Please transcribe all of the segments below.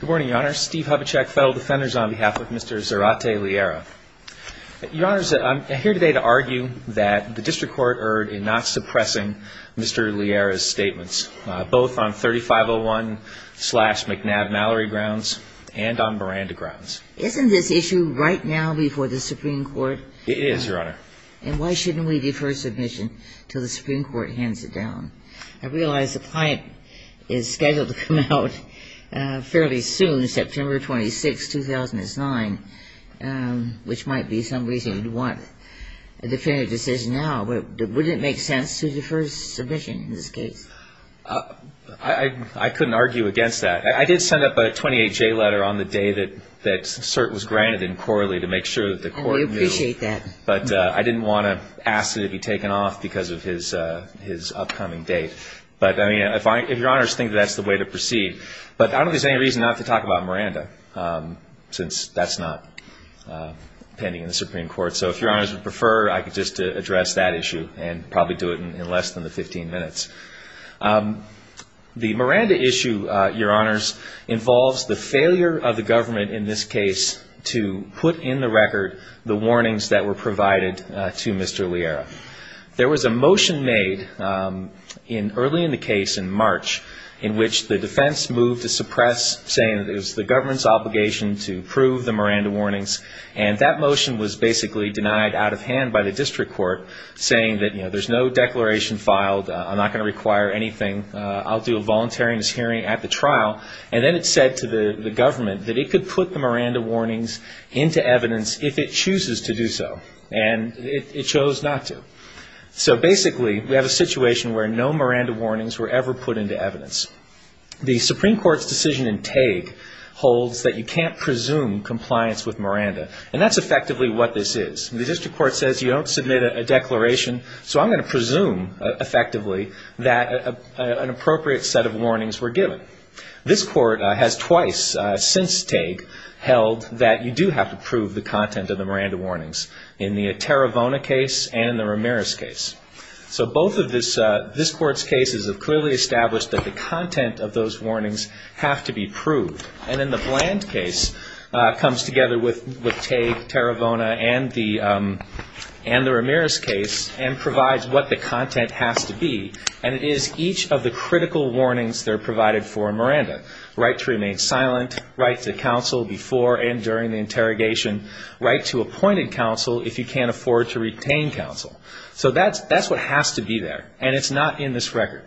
Good morning, Your Honor. Steve Hubachek, Federal Defenders, on behalf of Mr. Zerate Liera. Your Honor, I'm here today to argue that the District Court erred in not suppressing Mr. Liera's statements, both on 3501-slash-McNabb-Mallory grounds and on Miranda grounds. Isn't this issue right now before the Supreme Court? It is, Your Honor. And why shouldn't we defer submission until the Supreme Court hands it down? I realize the client is scheduled to come out fairly soon, September 26, 2009, which might be some reason you'd want a definitive decision now. But wouldn't it make sense to defer submission in this case? I couldn't argue against that. I did send up a 28-J letter on the day that cert was granted in Corley to make sure that the court knew. I appreciate that. But I didn't want to ask it to be taken off because of his upcoming date. But, I mean, if Your Honors think that's the way to proceed. But I don't think there's any reason not to talk about Miranda, since that's not pending in the Supreme Court. So if Your Honors would prefer, I could just address that issue and probably do it in less than the 15 minutes. The Miranda issue, Your Honors, involves the failure of the government in this case to put in the record the warnings that were provided to Mr. Liera. There was a motion made early in the case in March in which the defense moved to suppress, saying it was the government's obligation to prove the Miranda warnings. And that motion was basically denied out of hand by the district court, saying that there's no declaration filed. I'm not going to require anything. I'll do a voluntariness hearing at the trial. And then it said to the government that it could put the Miranda warnings into evidence if it chooses to do so. And it chose not to. So basically, we have a situation where no Miranda warnings were ever put into evidence. The Supreme Court's decision in Tague holds that you can't presume compliance with Miranda. And that's effectively what this is. The district court says you don't submit a declaration, so I'm going to presume effectively that an appropriate set of warnings were given. This court has twice since Tague held that you do have to prove the content of the Miranda warnings in the Taravona case and the Ramirez case. So both of this court's cases have clearly established that the content of those warnings have to be proved. And then the Bland case comes together with Tague, Taravona, and the Ramirez case and provides what the content has to be. And it is each of the critical warnings that are provided for Miranda. Right to remain silent. Right to counsel before and during the interrogation. Right to appointed counsel if you can't afford to retain counsel. So that's what has to be there. And it's not in this record.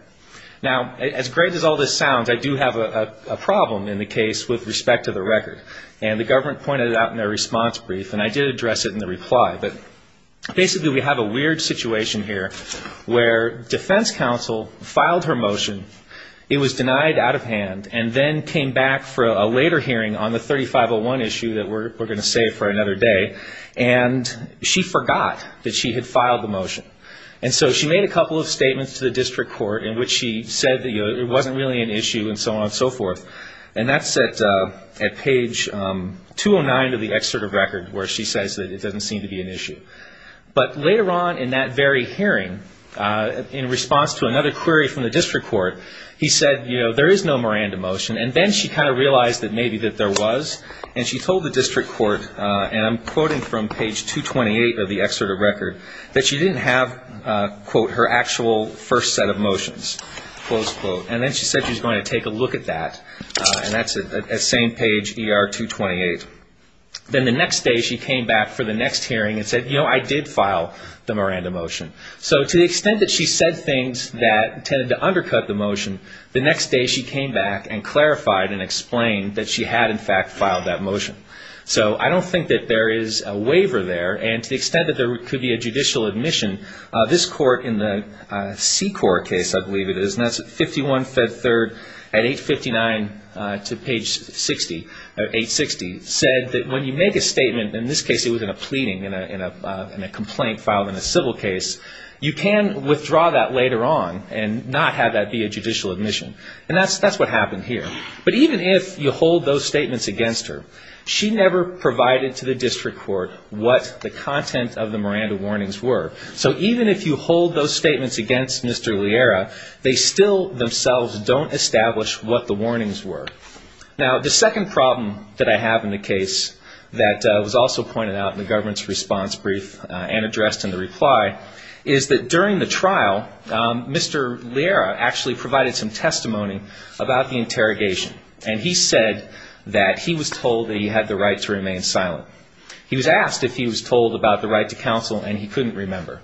Now, as great as all this sounds, I do have a problem in the case with respect to the record. And the government pointed it out in their response brief, and I did address it in the reply. But basically we have a weird situation here where defense counsel filed her motion, it was denied out of hand, and then came back for a later hearing on the 3501 issue that we're going to save for another day. And so she made a couple of statements to the district court in which she said it wasn't really an issue and so on and so forth. And that's at page 209 of the excerpt of record where she says that it doesn't seem to be an issue. But later on in that very hearing, in response to another query from the district court, he said, you know, there is no Miranda motion. And then she kind of realized that maybe that there was. And she told the district court, and I'm quoting from page 228 of the excerpt of record, that she didn't have, quote, her actual first set of motions, close quote. And then she said she was going to take a look at that. And that's at the same page, ER 228. Then the next day she came back for the next hearing and said, you know, I did file the Miranda motion. So to the extent that she said things that tended to undercut the motion, the next day she came back and clarified and explained that she had, in fact, filed that motion. So I don't think that there is a waiver there. And to the extent that there could be a judicial admission, this court in the C-Corp case, I believe it is, and that's 51 Fed Third at 859 to page 60, or 860, said that when you make a statement, in this case it was in a pleading, in a complaint filed in a civil case, you can withdraw that later on and not have that be a judicial admission. And that's what happened here. But even if you hold those statements against her, she never provided to the district court what the content of the Miranda warnings were. So even if you hold those statements against Mr. Liera, they still themselves don't establish what the warnings were. Now, the second problem that I have in the case that was also pointed out in the government's response brief and addressed in the reply, is that during the trial, Mr. Liera actually provided some testimony about the interrogation. And he said that he was told that he had the right to remain silent. He was asked if he was told about the right to counsel, and he couldn't remember.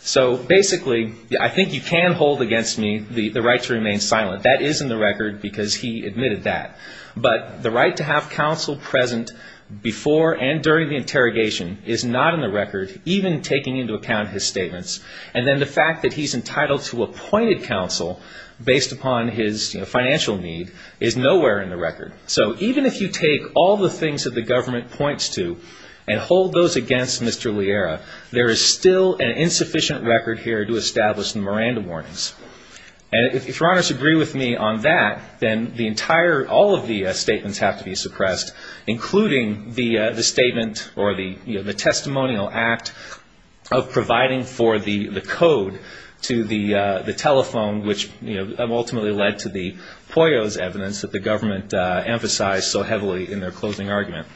So basically, I think you can hold against me the right to remain silent. That is in the record because he admitted that. But the right to have counsel present before and during the interrogation is not in the record, even taking into account his statements. And then the fact that he's entitled to appointed counsel based upon his financial need is nowhere in the record. So even if you take all the things that the government points to and hold those against Mr. Liera, there is still an insufficient record here to establish the Miranda warnings. And if Your Honors agree with me on that, then the entire, all of the statements have to be suppressed, including the statement or the testimonial act of providing for the code to the telephone, which ultimately led to the Poyos evidence that the government emphasized so heavily in their closing argument.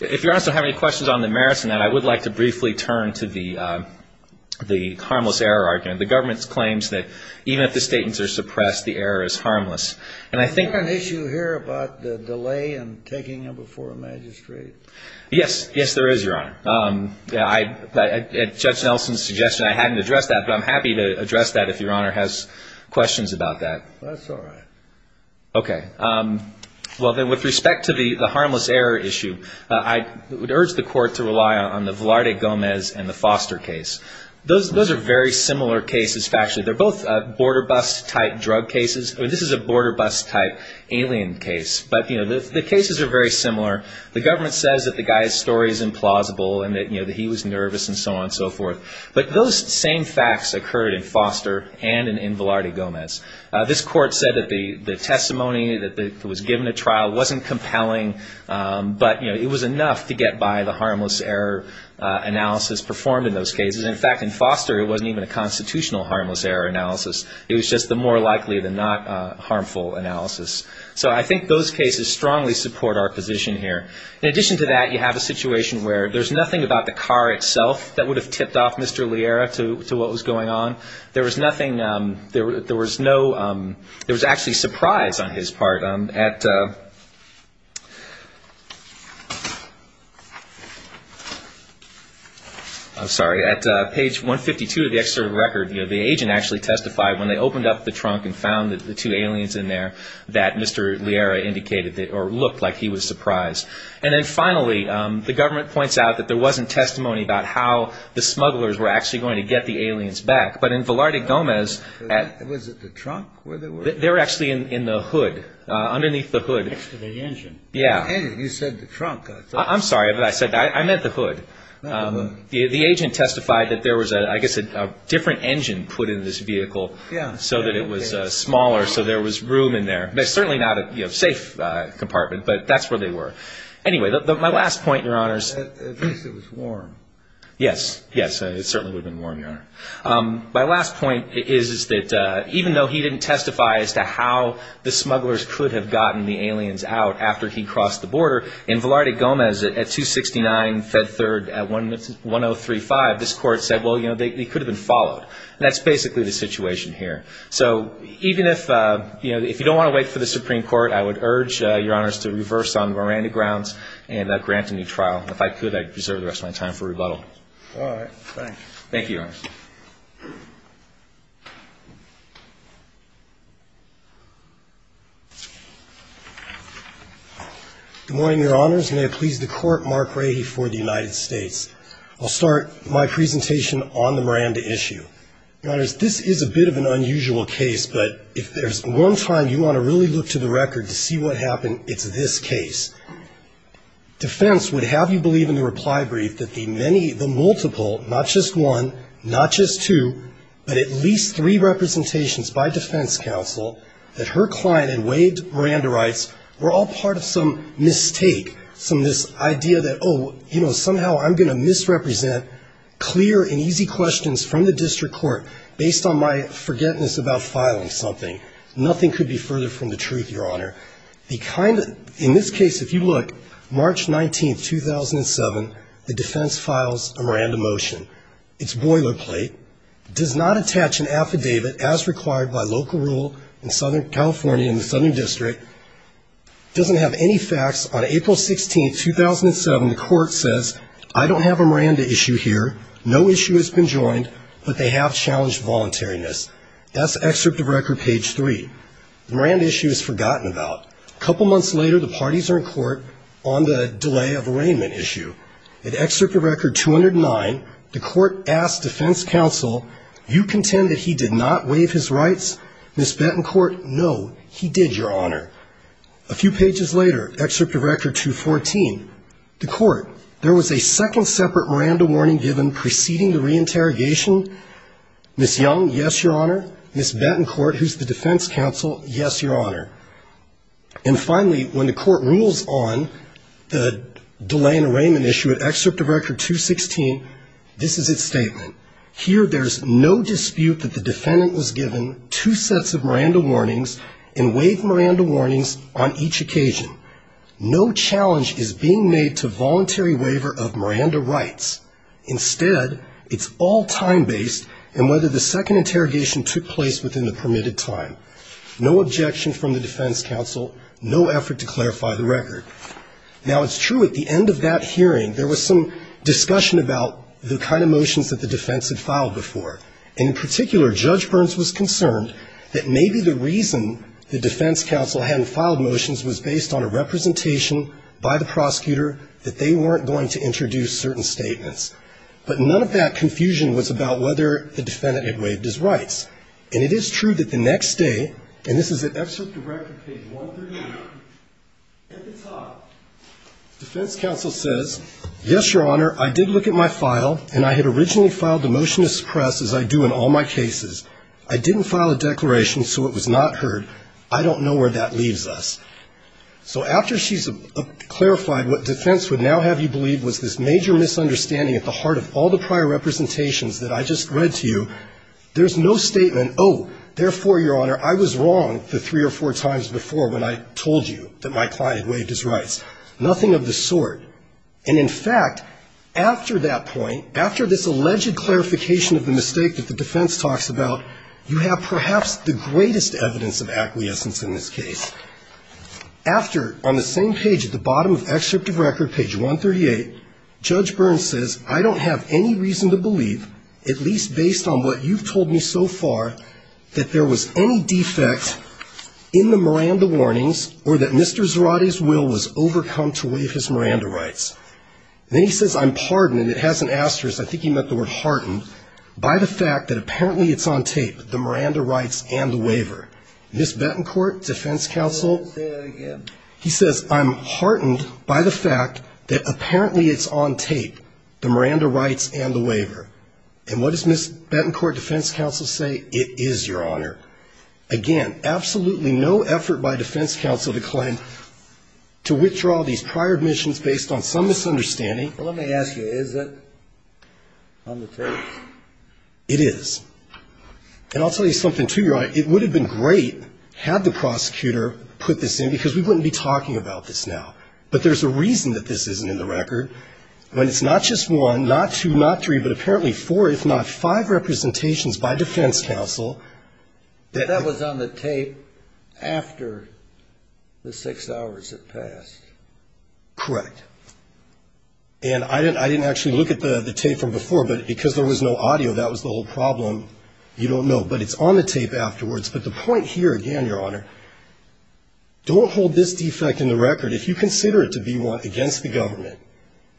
If Your Honors don't have any questions on the merits of that, I would like to briefly turn to the harmless error argument. The government claims that even if the statements are suppressed, the error is harmless. And I think... Is there an issue here about the delay in taking them before a magistrate? Yes. Yes, there is, Your Honor. At Judge Nelson's suggestion, I hadn't addressed that, but I'm happy to address that if Your Honor has questions about that. That's all right. Okay. Well, then, with respect to the harmless error issue, I would urge the Court to rely on the Velarde Gomez and the Foster case. Those are very similar cases, factually. They're both border bus type drug cases. This is a border bus type alien case. But the cases are very similar. The government says that the guy's story is implausible and that he was nervous and so on and so forth. But those same facts occurred in Foster and in Velarde Gomez. This Court said that the testimony that was given at trial wasn't compelling, but it was enough to get by the harmless error analysis performed in those cases. In fact, in Foster, it wasn't even a constitutional harmless error analysis. It was just the more likely-than-not harmful analysis. So I think those cases strongly support our position here. In addition to that, you have a situation where there's nothing about the car itself that would have tipped off Mr. Liera to what was going on. There was actually surprise on his part at page 152 of the external record. The agent actually testified when they opened up the trunk and found the two aliens in there that Mr. Liera indicated or looked like he was surprised. And then finally, the government points out that there wasn't testimony about how the smugglers were actually going to get the aliens back. But in Velarde Gomez, they're actually in the hood, underneath the hood. I'm sorry, but I meant the hood. The agent testified that there was, I guess, a different engine put in this vehicle so that it was smaller, so there was room in there. Certainly not a safe compartment, but that's where they were. Anyway, my last point, Your Honors. At least it was warm. Yes. Yes, it certainly would have been warm, Your Honor. My last point is that even though he didn't testify as to how the smugglers could have gotten the aliens out after he crossed the border, in Velarde Gomez at 269 Fed Third at 1035, this Court said, well, you know, they could have been followed. That's basically the situation here. So even if you don't want to wait for the Supreme Court, I would urge Your Honors to reverse on Miranda grounds and grant a new trial. If I could, I'd reserve the rest of my time for rebuttal. All right. Thank you, Your Honors. Good morning, Your Honors. May it please the Court, Mark Rahe for the United States. I'll start my presentation on the Miranda issue. Your Honors, this is a bit of an unusual case, but if there's one time you want to really look to the record to see what happened, it's this case. Defense would have you believe in the reply brief that the many, the multiple, not just one, not just two, but at least three representations by defense counsel that her client and Wade Miranda writes were all part of some mistake, some of this idea that, oh, you know, somehow I'm going to misrepresent clear and easy questions from the district court based on my forgetfulness about filing something. Nothing could be further from the truth, Your Honor. In this case, if you look, March 19, 2007, the defense files a Miranda motion. It's boilerplate, does not attach an affidavit as required by local rule in Southern California in the Southern District, doesn't have any facts. On April 16, 2007, the court says, I don't have a Miranda issue here, no issue has been joined, but they have challenged voluntariness. That's excerpt of record page three. Miranda issue is forgotten about. A couple months later, the parties are in court on the delay of arraignment issue. At excerpt of record 209, the court asks defense counsel, you contend that he did not waive his rights? Ms. Bettencourt, no, he did, Your Honor. A few pages later, excerpt of record 214, the court, there was a second separate Miranda warning given preceding the reinterrogation. Ms. Young, yes, Your Honor. Ms. Bettencourt, who's the defense counsel, yes, Your Honor. And finally, when the court rules on the delay in arraignment issue, at excerpt of record 216, this is its statement. Here there's no dispute that the defendant was given two sets of Miranda warnings and waived Miranda warnings on each occasion. No challenge is being made to voluntary waiver of Miranda rights. Instead, it's all time-based and whether the second interrogation took place within the permitted time. No objection from the defense counsel, no effort to clarify the record. Now, it's true at the end of that hearing there was some discussion about the kind of motions that the defense had filed before. And in particular, Judge Burns was concerned that maybe the reason the defense counsel hadn't filed motions was based on a representation by the prosecutor that they weren't going to introduce certain statements. But none of that confusion was about whether the defendant had waived his rights. And it is true that the next day, and this is at excerpt of record page 138, at the top, the defense counsel says, yes, Your Honor, I did look at my file, and I had originally filed a motion to suppress, as I do in all my cases. I didn't file a declaration, so it was not heard. I don't know where that leaves us. So after she's clarified what defense would now have you believe was this major misunderstanding at the heart of all the prior representations that I just read to you, there's no statement, oh, therefore, Your Honor, I was wrong the three or four times before when I told you that my client waived his rights. Nothing of the sort. And in fact, after that point, after this alleged clarification of the mistake that the defense talks about, you have perhaps the greatest evidence of acquiescence in this case. After, on the same page at the bottom of excerpt of record, page 138, Judge Burns says, I don't have any reason to believe, at least based on what you've told me so far, that there was any defect in the Miranda warnings, or that Mr. Zarate's will was overcome to waive his Miranda rights. Then he says, I'm pardoned, and it has an asterisk, I think he meant the word hardened, by the fact that apparently it's on tape, the Miranda rights and the waiver. Ms. Betancourt, defense counsel. Say that again. He says, I'm heartened by the fact that apparently it's on tape, the Miranda rights and the waiver. And what does Ms. Betancourt, defense counsel, say? It is, Your Honor. Again, absolutely no effort by defense counsel, the client, to withdraw these prior admissions based on some misunderstanding. Let me ask you, is it on the tape? It is. And I'll tell you something, too, Your Honor, it would have been great had the prosecutor put this in, because we wouldn't be talking about this now. But there's a reason that this isn't in the record. When it's not just one, not two, not three, but apparently four, if not five representations by defense counsel. That was on the tape after the six hours had passed. Correct. And I didn't actually look at the tape from before, but because there was no audio, that was the whole problem. You don't know, but it's on the tape afterwards. But the point here, again, Your Honor, don't hold this defect in the record. If you consider it to be one against the government,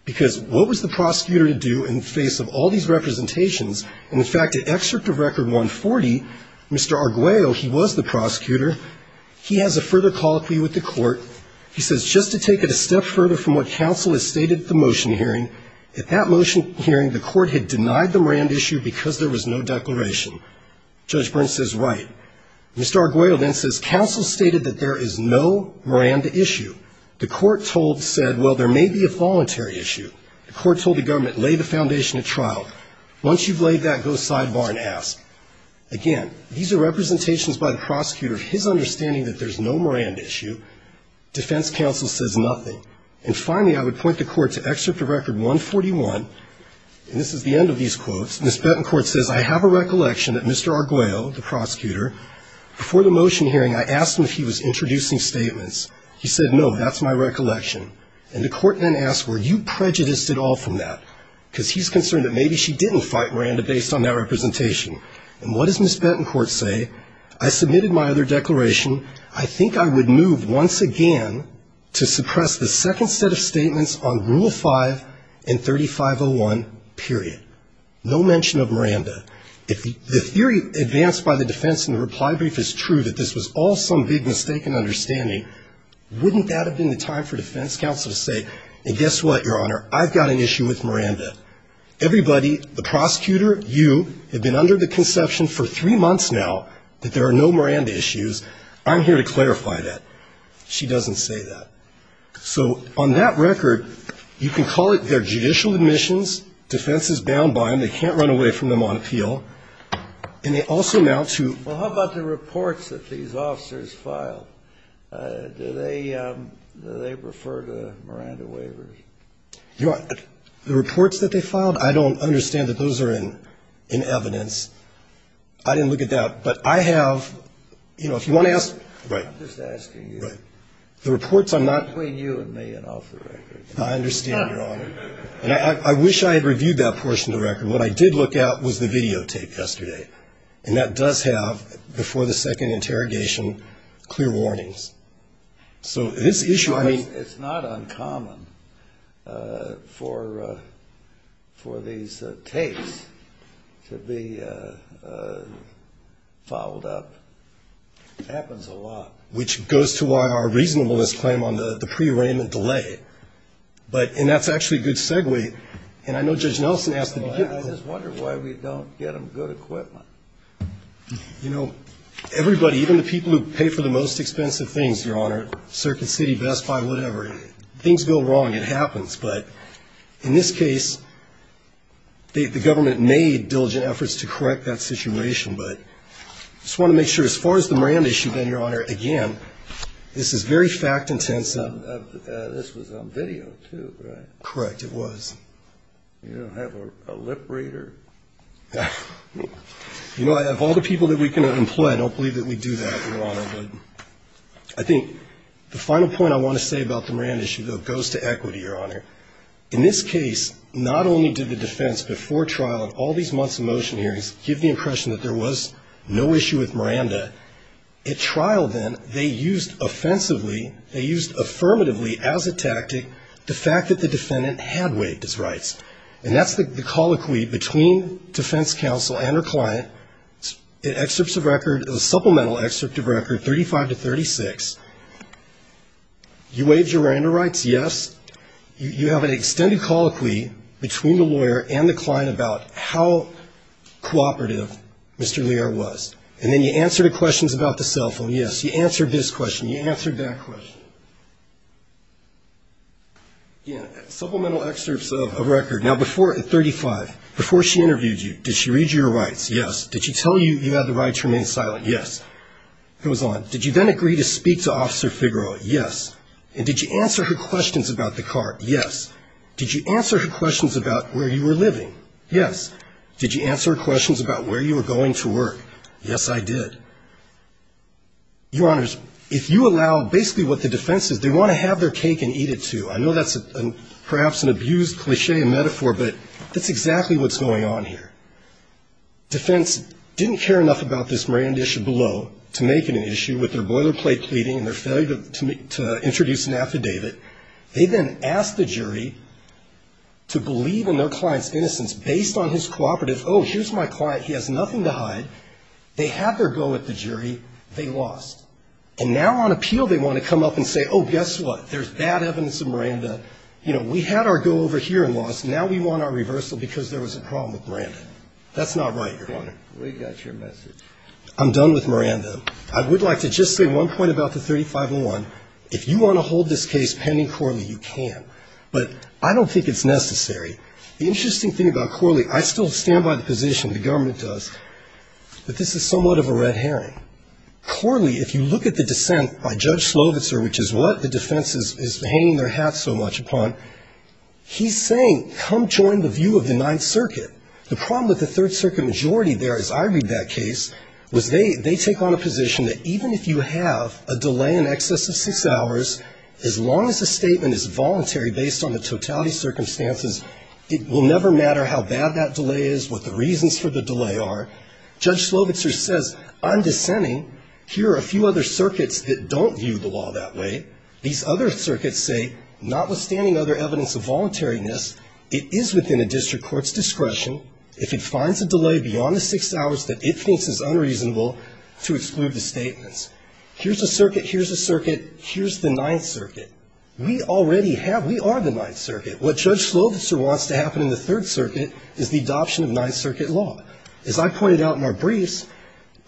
because what was the prosecutor to do in the face of all these representations? And, in fact, to excerpt a record 140, Mr. Arguello, he was the prosecutor. He has a further colloquy with the court. He says, just to take it a step further from what counsel has stated at the motion hearing, at that motion hearing, the court had denied the Miranda issue because there was no declaration. Judge Byrne says, right. Mr. Arguello then says, counsel stated that there is no Miranda issue. The court told, said, well, there may be a voluntary issue. The court told the government, lay the foundation at trial. Once you've laid that, go sidebar and ask. Again, these are representations by the prosecutor of his understanding that there's no Miranda issue. Defense counsel says nothing. And finally, I would point the court to excerpt of record 141, and this is the end of these quotes. Ms. Bettencourt says, I have a recollection that Mr. Arguello, the prosecutor, before the motion hearing, I asked him if he was introducing statements. He said, no, that's my recollection. And the court then asked, were you prejudiced at all from that? Because he's concerned that maybe she didn't fight Miranda based on that representation. And what does Ms. Bettencourt say? I submitted my other declaration. I think I would move once again to suppress the second set of statements on Rule 5 and 3501, period. No mention of Miranda. If the theory advanced by the defense in the reply brief is true, that this was all some big mistake in understanding, wouldn't that have been the time for defense counsel to say, and guess what, Your Honor, I've got an issue with Miranda. Everybody, the prosecutor, you, have been under the conception for three months now that there are no Miranda issues. I'm here to clarify that. She doesn't say that. So on that record, you can call it their judicial admissions. Defense is bound by them. They can't run away from them on appeal. And they also now, too. Well, how about the reports that these officers filed? Do they refer to Miranda waivers? Your Honor, the reports that they filed, I don't understand that those are in evidence. I didn't look at that. But I have, you know, if you want to ask. I'm just asking you. The reports I'm not. Between you and me and off the record. I understand, Your Honor. And I wish I had reviewed that portion of the record. What I did look at was the videotape yesterday. And that does have, before the second interrogation, clear warnings. So this issue, I mean. It's not uncommon for these tapes to be followed up. It happens a lot. Which goes to why our reasonableness claim on the prearrangement delay. And that's actually a good segue. And I know Judge Nelson asked. I just wonder why we don't get them good equipment. You know, everybody, even the people who pay for the most expensive things, Your Honor, Circuit City, Best Buy, whatever. Things go wrong. It happens. But in this case, the government made diligent efforts to correct that situation. But I just want to make sure. As far as the Moran issue, then, Your Honor, again, this is very fact intense. This was on video, too, right? Correct. It was. You don't have a lip reader? You know, of all the people that we can employ, I don't believe that we do that, Your Honor. I think the final point I want to say about the Moran issue, though, goes to equity, Your Honor. In this case, not only did the defense, before trial and all these months of motion hearings, give the impression that there was no issue with Miranda. At trial, then, they used offensively, they used affirmatively as a tactic, the fact that the defendant had waived his rights. And that's the colloquy between defense counsel and her client. In supplemental excerpts of record 35 to 36, you waived your Miranda rights, yes. You have an extended colloquy between the lawyer and the client about how cooperative Mr. Lear was. And then you answered a question about the cell phone, yes. You answered this question. You answered that question. Again, supplemental excerpts of record. Now, before 35, before she interviewed you, did she read your rights? Yes. Did she tell you you had the right to remain silent? Yes. It was on. Did you then agree to speak to Officer Figaro? Yes. And did you answer her questions about the car? Yes. Did you answer her questions about where you were living? Yes. Did you answer her questions about where you were going to work? Yes, I did. Your Honors, if you allow basically what the defense is, they want to have their cake and eat it, too. I know that's perhaps an abused cliche and metaphor, but that's exactly what's going on here. Defense didn't care enough about this Miranda issue below to make it an issue with their boilerplate pleading and their failure to introduce an affidavit. They then asked the jury to believe in their client's innocence based on his cooperative, oh, here's my client, he has nothing to hide. They had their go at the jury. They lost. And now on appeal they want to come up and say, oh, guess what? There's bad evidence of Miranda. You know, we had our go over here and lost. Now we want our reversal because there was a problem with Miranda. That's not right, Your Honor. We got your message. I'm done with Miranda. I would like to just say one point about the 3501. If you want to hold this case pending Corley, you can. But I don't think it's necessary. The interesting thing about Corley, I still stand by the position the government does, but this is somewhat of a red herring. Corley, if you look at the dissent by Judge Slovitzer, which is what the defense is hanging their hat so much upon, he's saying come join the view of the Ninth Circuit. The problem with the Third Circuit majority there, as I read that case, was they take on a position that even if you have a delay in excess of six hours, as long as the statement is voluntary based on the totality circumstances, it will never matter how bad that delay is, what the reasons for the delay are. Judge Slovitzer says, I'm dissenting. Here are a few other circuits that don't view the law that way. These other circuits say, notwithstanding other evidence of voluntariness, it is within a district court's discretion, if it finds a delay beyond the six hours that it thinks is unreasonable, to exclude the statements. Here's a circuit, here's a circuit, here's the Ninth Circuit. We already have, we are the Ninth Circuit. What Judge Slovitzer wants to happen in the Third Circuit is the adoption of Ninth Circuit law. As I pointed out in our briefs,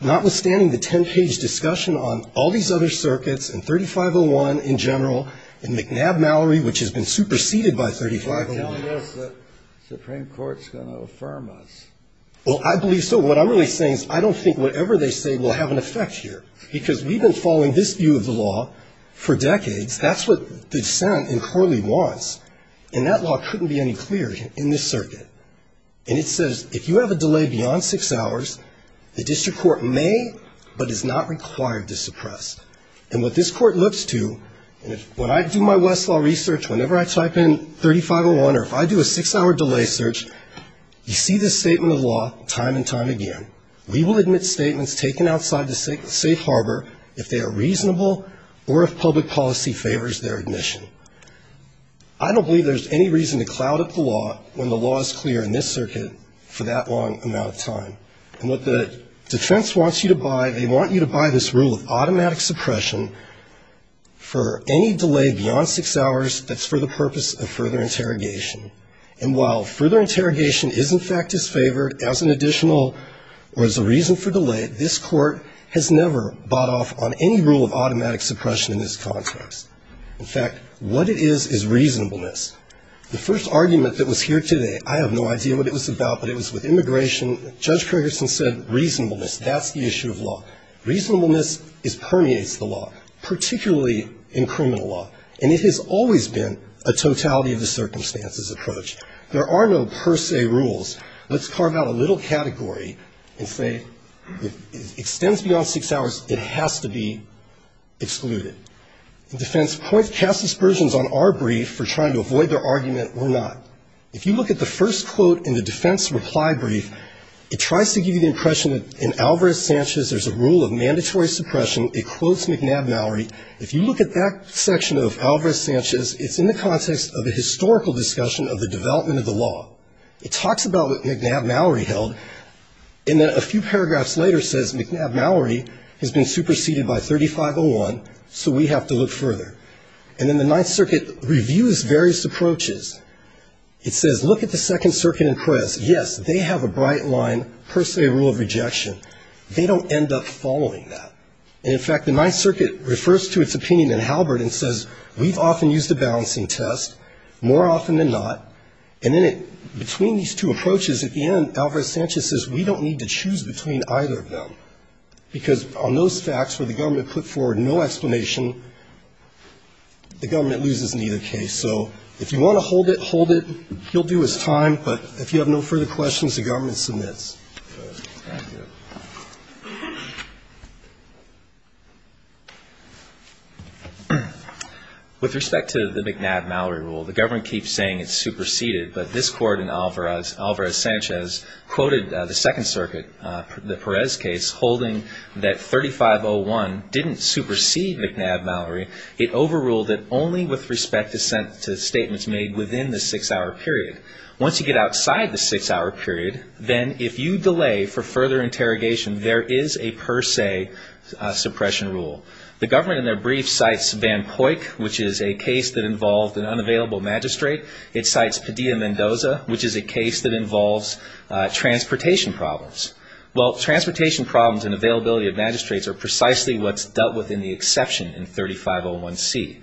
notwithstanding the ten-page discussion on all these other circuits, and 3501 in general, and McNabb-Mallory, which has been superseded by 3501. Breyer. Well, I believe that the Supreme Court is going to affirm us. Slovitzer. Well, I believe so. What I'm really saying is I don't think whatever they say will have an effect here, because we've been following this view of the law for decades. That's what the dissent in Corley wants. And that law couldn't be any clearer in this circuit. And it says if you have a delay beyond six hours, the district court may, but is not required to suppress. And what this court looks to, when I do my Westlaw research, whenever I type in 3501, or if I do a six-hour delay search, you see this statement of law time and time again. We will admit statements taken outside the safe harbor if they are reasonable or if public policy favors their admission. I don't believe there's any reason to cloud up the law when the law is clear in this circuit for that long amount of time. And what the defense wants you to buy, they want you to buy this rule of automatic suppression for any delay beyond six hours that's for the purpose of further interrogation. And while further interrogation is, in fact, disfavored as an additional or as a reason for delay, this court has never bought off on any rule of automatic suppression in this context. In fact, what it is is reasonableness. The first argument that was here today, I have no idea what it was about, but it was with immigration. Judge Craigerson said reasonableness, that's the issue of law. Reasonableness permeates the law, particularly in criminal law. And it has always been a totality of the circumstances approach. There are no per se rules. Let's carve out a little category and say if it extends beyond six hours, it has to be excluded. The defense casts aspersions on our brief for trying to avoid their argument or not. If you look at the first quote in the defense reply brief, it tries to give you the impression that in Alvarez-Sanchez, there's a rule of mandatory suppression, it quotes McNabb-Mallory. If you look at that section of Alvarez-Sanchez, it's in the context of a historical discussion of the development of the law. It talks about what McNabb-Mallory held, and then a few paragraphs later says McNabb-Mallory has been superseded by 3501, so we have to look further. And then the Ninth Circuit reviews various approaches. It says look at the Second Circuit and press. Yes, they have a bright line per se rule of rejection. They don't end up following that. And in fact, the Ninth Circuit refers to its opinion in Halbert and says we've often used a balancing test, more often than not, and then between these two approaches, at the end, Alvarez-Sanchez says we don't need to choose between either of them, because on those facts where the government put forward no explanation, the government loses in either case. So if you want to hold it, hold it. You'll do as time, but if you have no further questions, the government submits. Thank you. With respect to the McNabb-Mallory rule, the government keeps saying it's superseded, but this court in Alvarez-Sanchez quoted the Second Circuit, the Perez case, holding that 3501 didn't supersede McNabb-Mallory. It overruled it only with respect to statements made within the six-hour period. Once you get outside the six-hour period, then if you delay for further interrogation, there is a per se suppression rule. The government in their brief cites Van Poyck, which is a case that involved an unavailable magistrate. It cites Padilla-Mendoza, which is a case that involves transportation problems. Well, transportation problems and availability of magistrates are precisely what's dealt with in the exception in 3501C.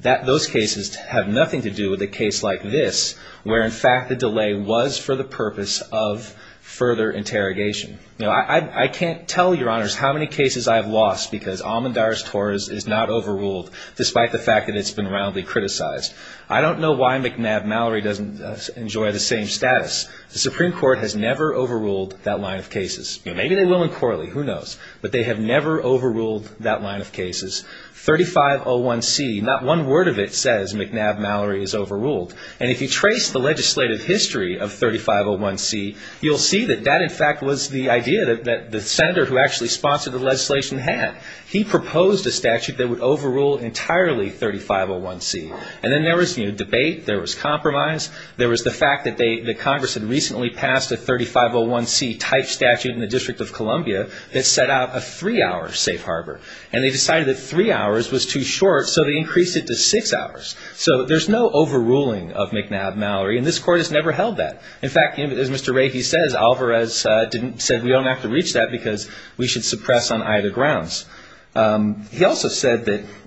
Those cases have nothing to do with a case like this, where in fact the delay was for the purpose of further interrogation. I can't tell Your Honors how many cases I've lost because Almendarez-Torres is not overruled, despite the fact that it's been roundly criticized. I don't know why McNabb-Mallory doesn't enjoy the same status. The Supreme Court has never overruled that line of cases. Maybe they will in Corley, who knows? But they have never overruled that line of cases. 3501C, not one word of it says McNabb-Mallory is overruled. And if you trace the legislative history of 3501C, you'll see that that in fact was the idea that the senator who actually sponsored the legislation had. He proposed a statute that would overrule entirely 3501C. And then there was debate, there was compromise, there was the fact that Congress had recently passed a 3501C-type statute in the District of Columbia that set out a three-hour safe harbor. And they decided that three hours was too short, so they increased it to six hours. So there's no overruling of McNabb-Mallory, and this Court has never held that. In fact, as Mr. Rahe says, Alvarez said, we don't have to reach that because we should suppress on either grounds. He also said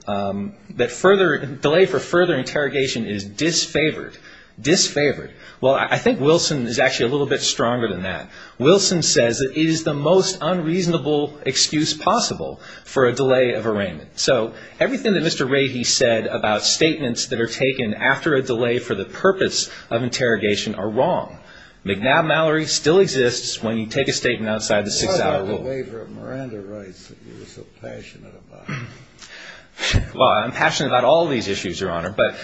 that delay for further interrogation is disfavored, disfavored. Well, I think Wilson is actually a little bit stronger than that. Wilson says that it is the most unreasonable excuse possible for a delay of arraignment. So everything that Mr. Rahe said about statements that are taken after a delay for the purpose of interrogation are wrong. McNabb-Mallory still exists when you take a statement outside the six-hour rule. Why is that a waiver of Miranda rights that you're so passionate about? Well, I'm passionate about all these issues, Your Honor. But,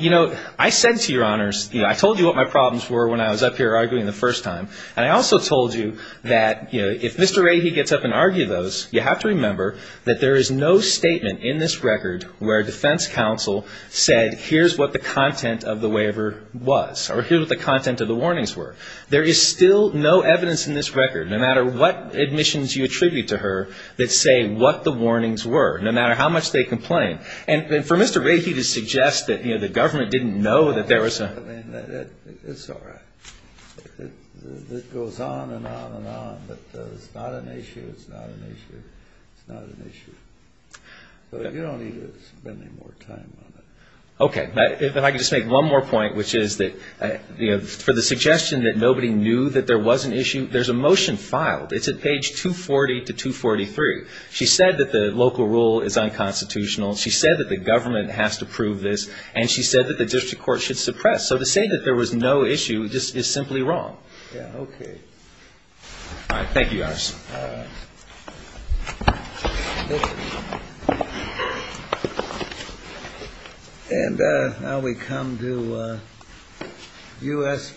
you know, I said to Your Honors, you know, I told you what my problems were when I was up here arguing the first time. And I also told you that, you know, if Mr. Rahe gets up and argues those, you have to remember that there is no statement in this record where a defense counsel said here's what the content of the waiver was or here's what the content of the warnings were. There is still no evidence in this record, no matter what admissions you attribute to her, that say what the warnings were, no matter how much they complain. And for Mr. Rahe to suggest that, you know, the government didn't know that there was a ---- It's all right. It goes on and on and on. But it's not an issue. It's not an issue. It's not an issue. But you don't need to spend any more time on it. Okay. If I could just make one more point, which is that, you know, for the suggestion that nobody knew that there was an issue, there's a motion filed. It's at page 240 to 243. She said that the local rule is unconstitutional. She said that the government has to prove this. And she said that the district court should suppress. So to say that there was no issue is simply wrong. Yeah, okay. All right. Thank you, Your Honors. Thank you. And now we come to U.S.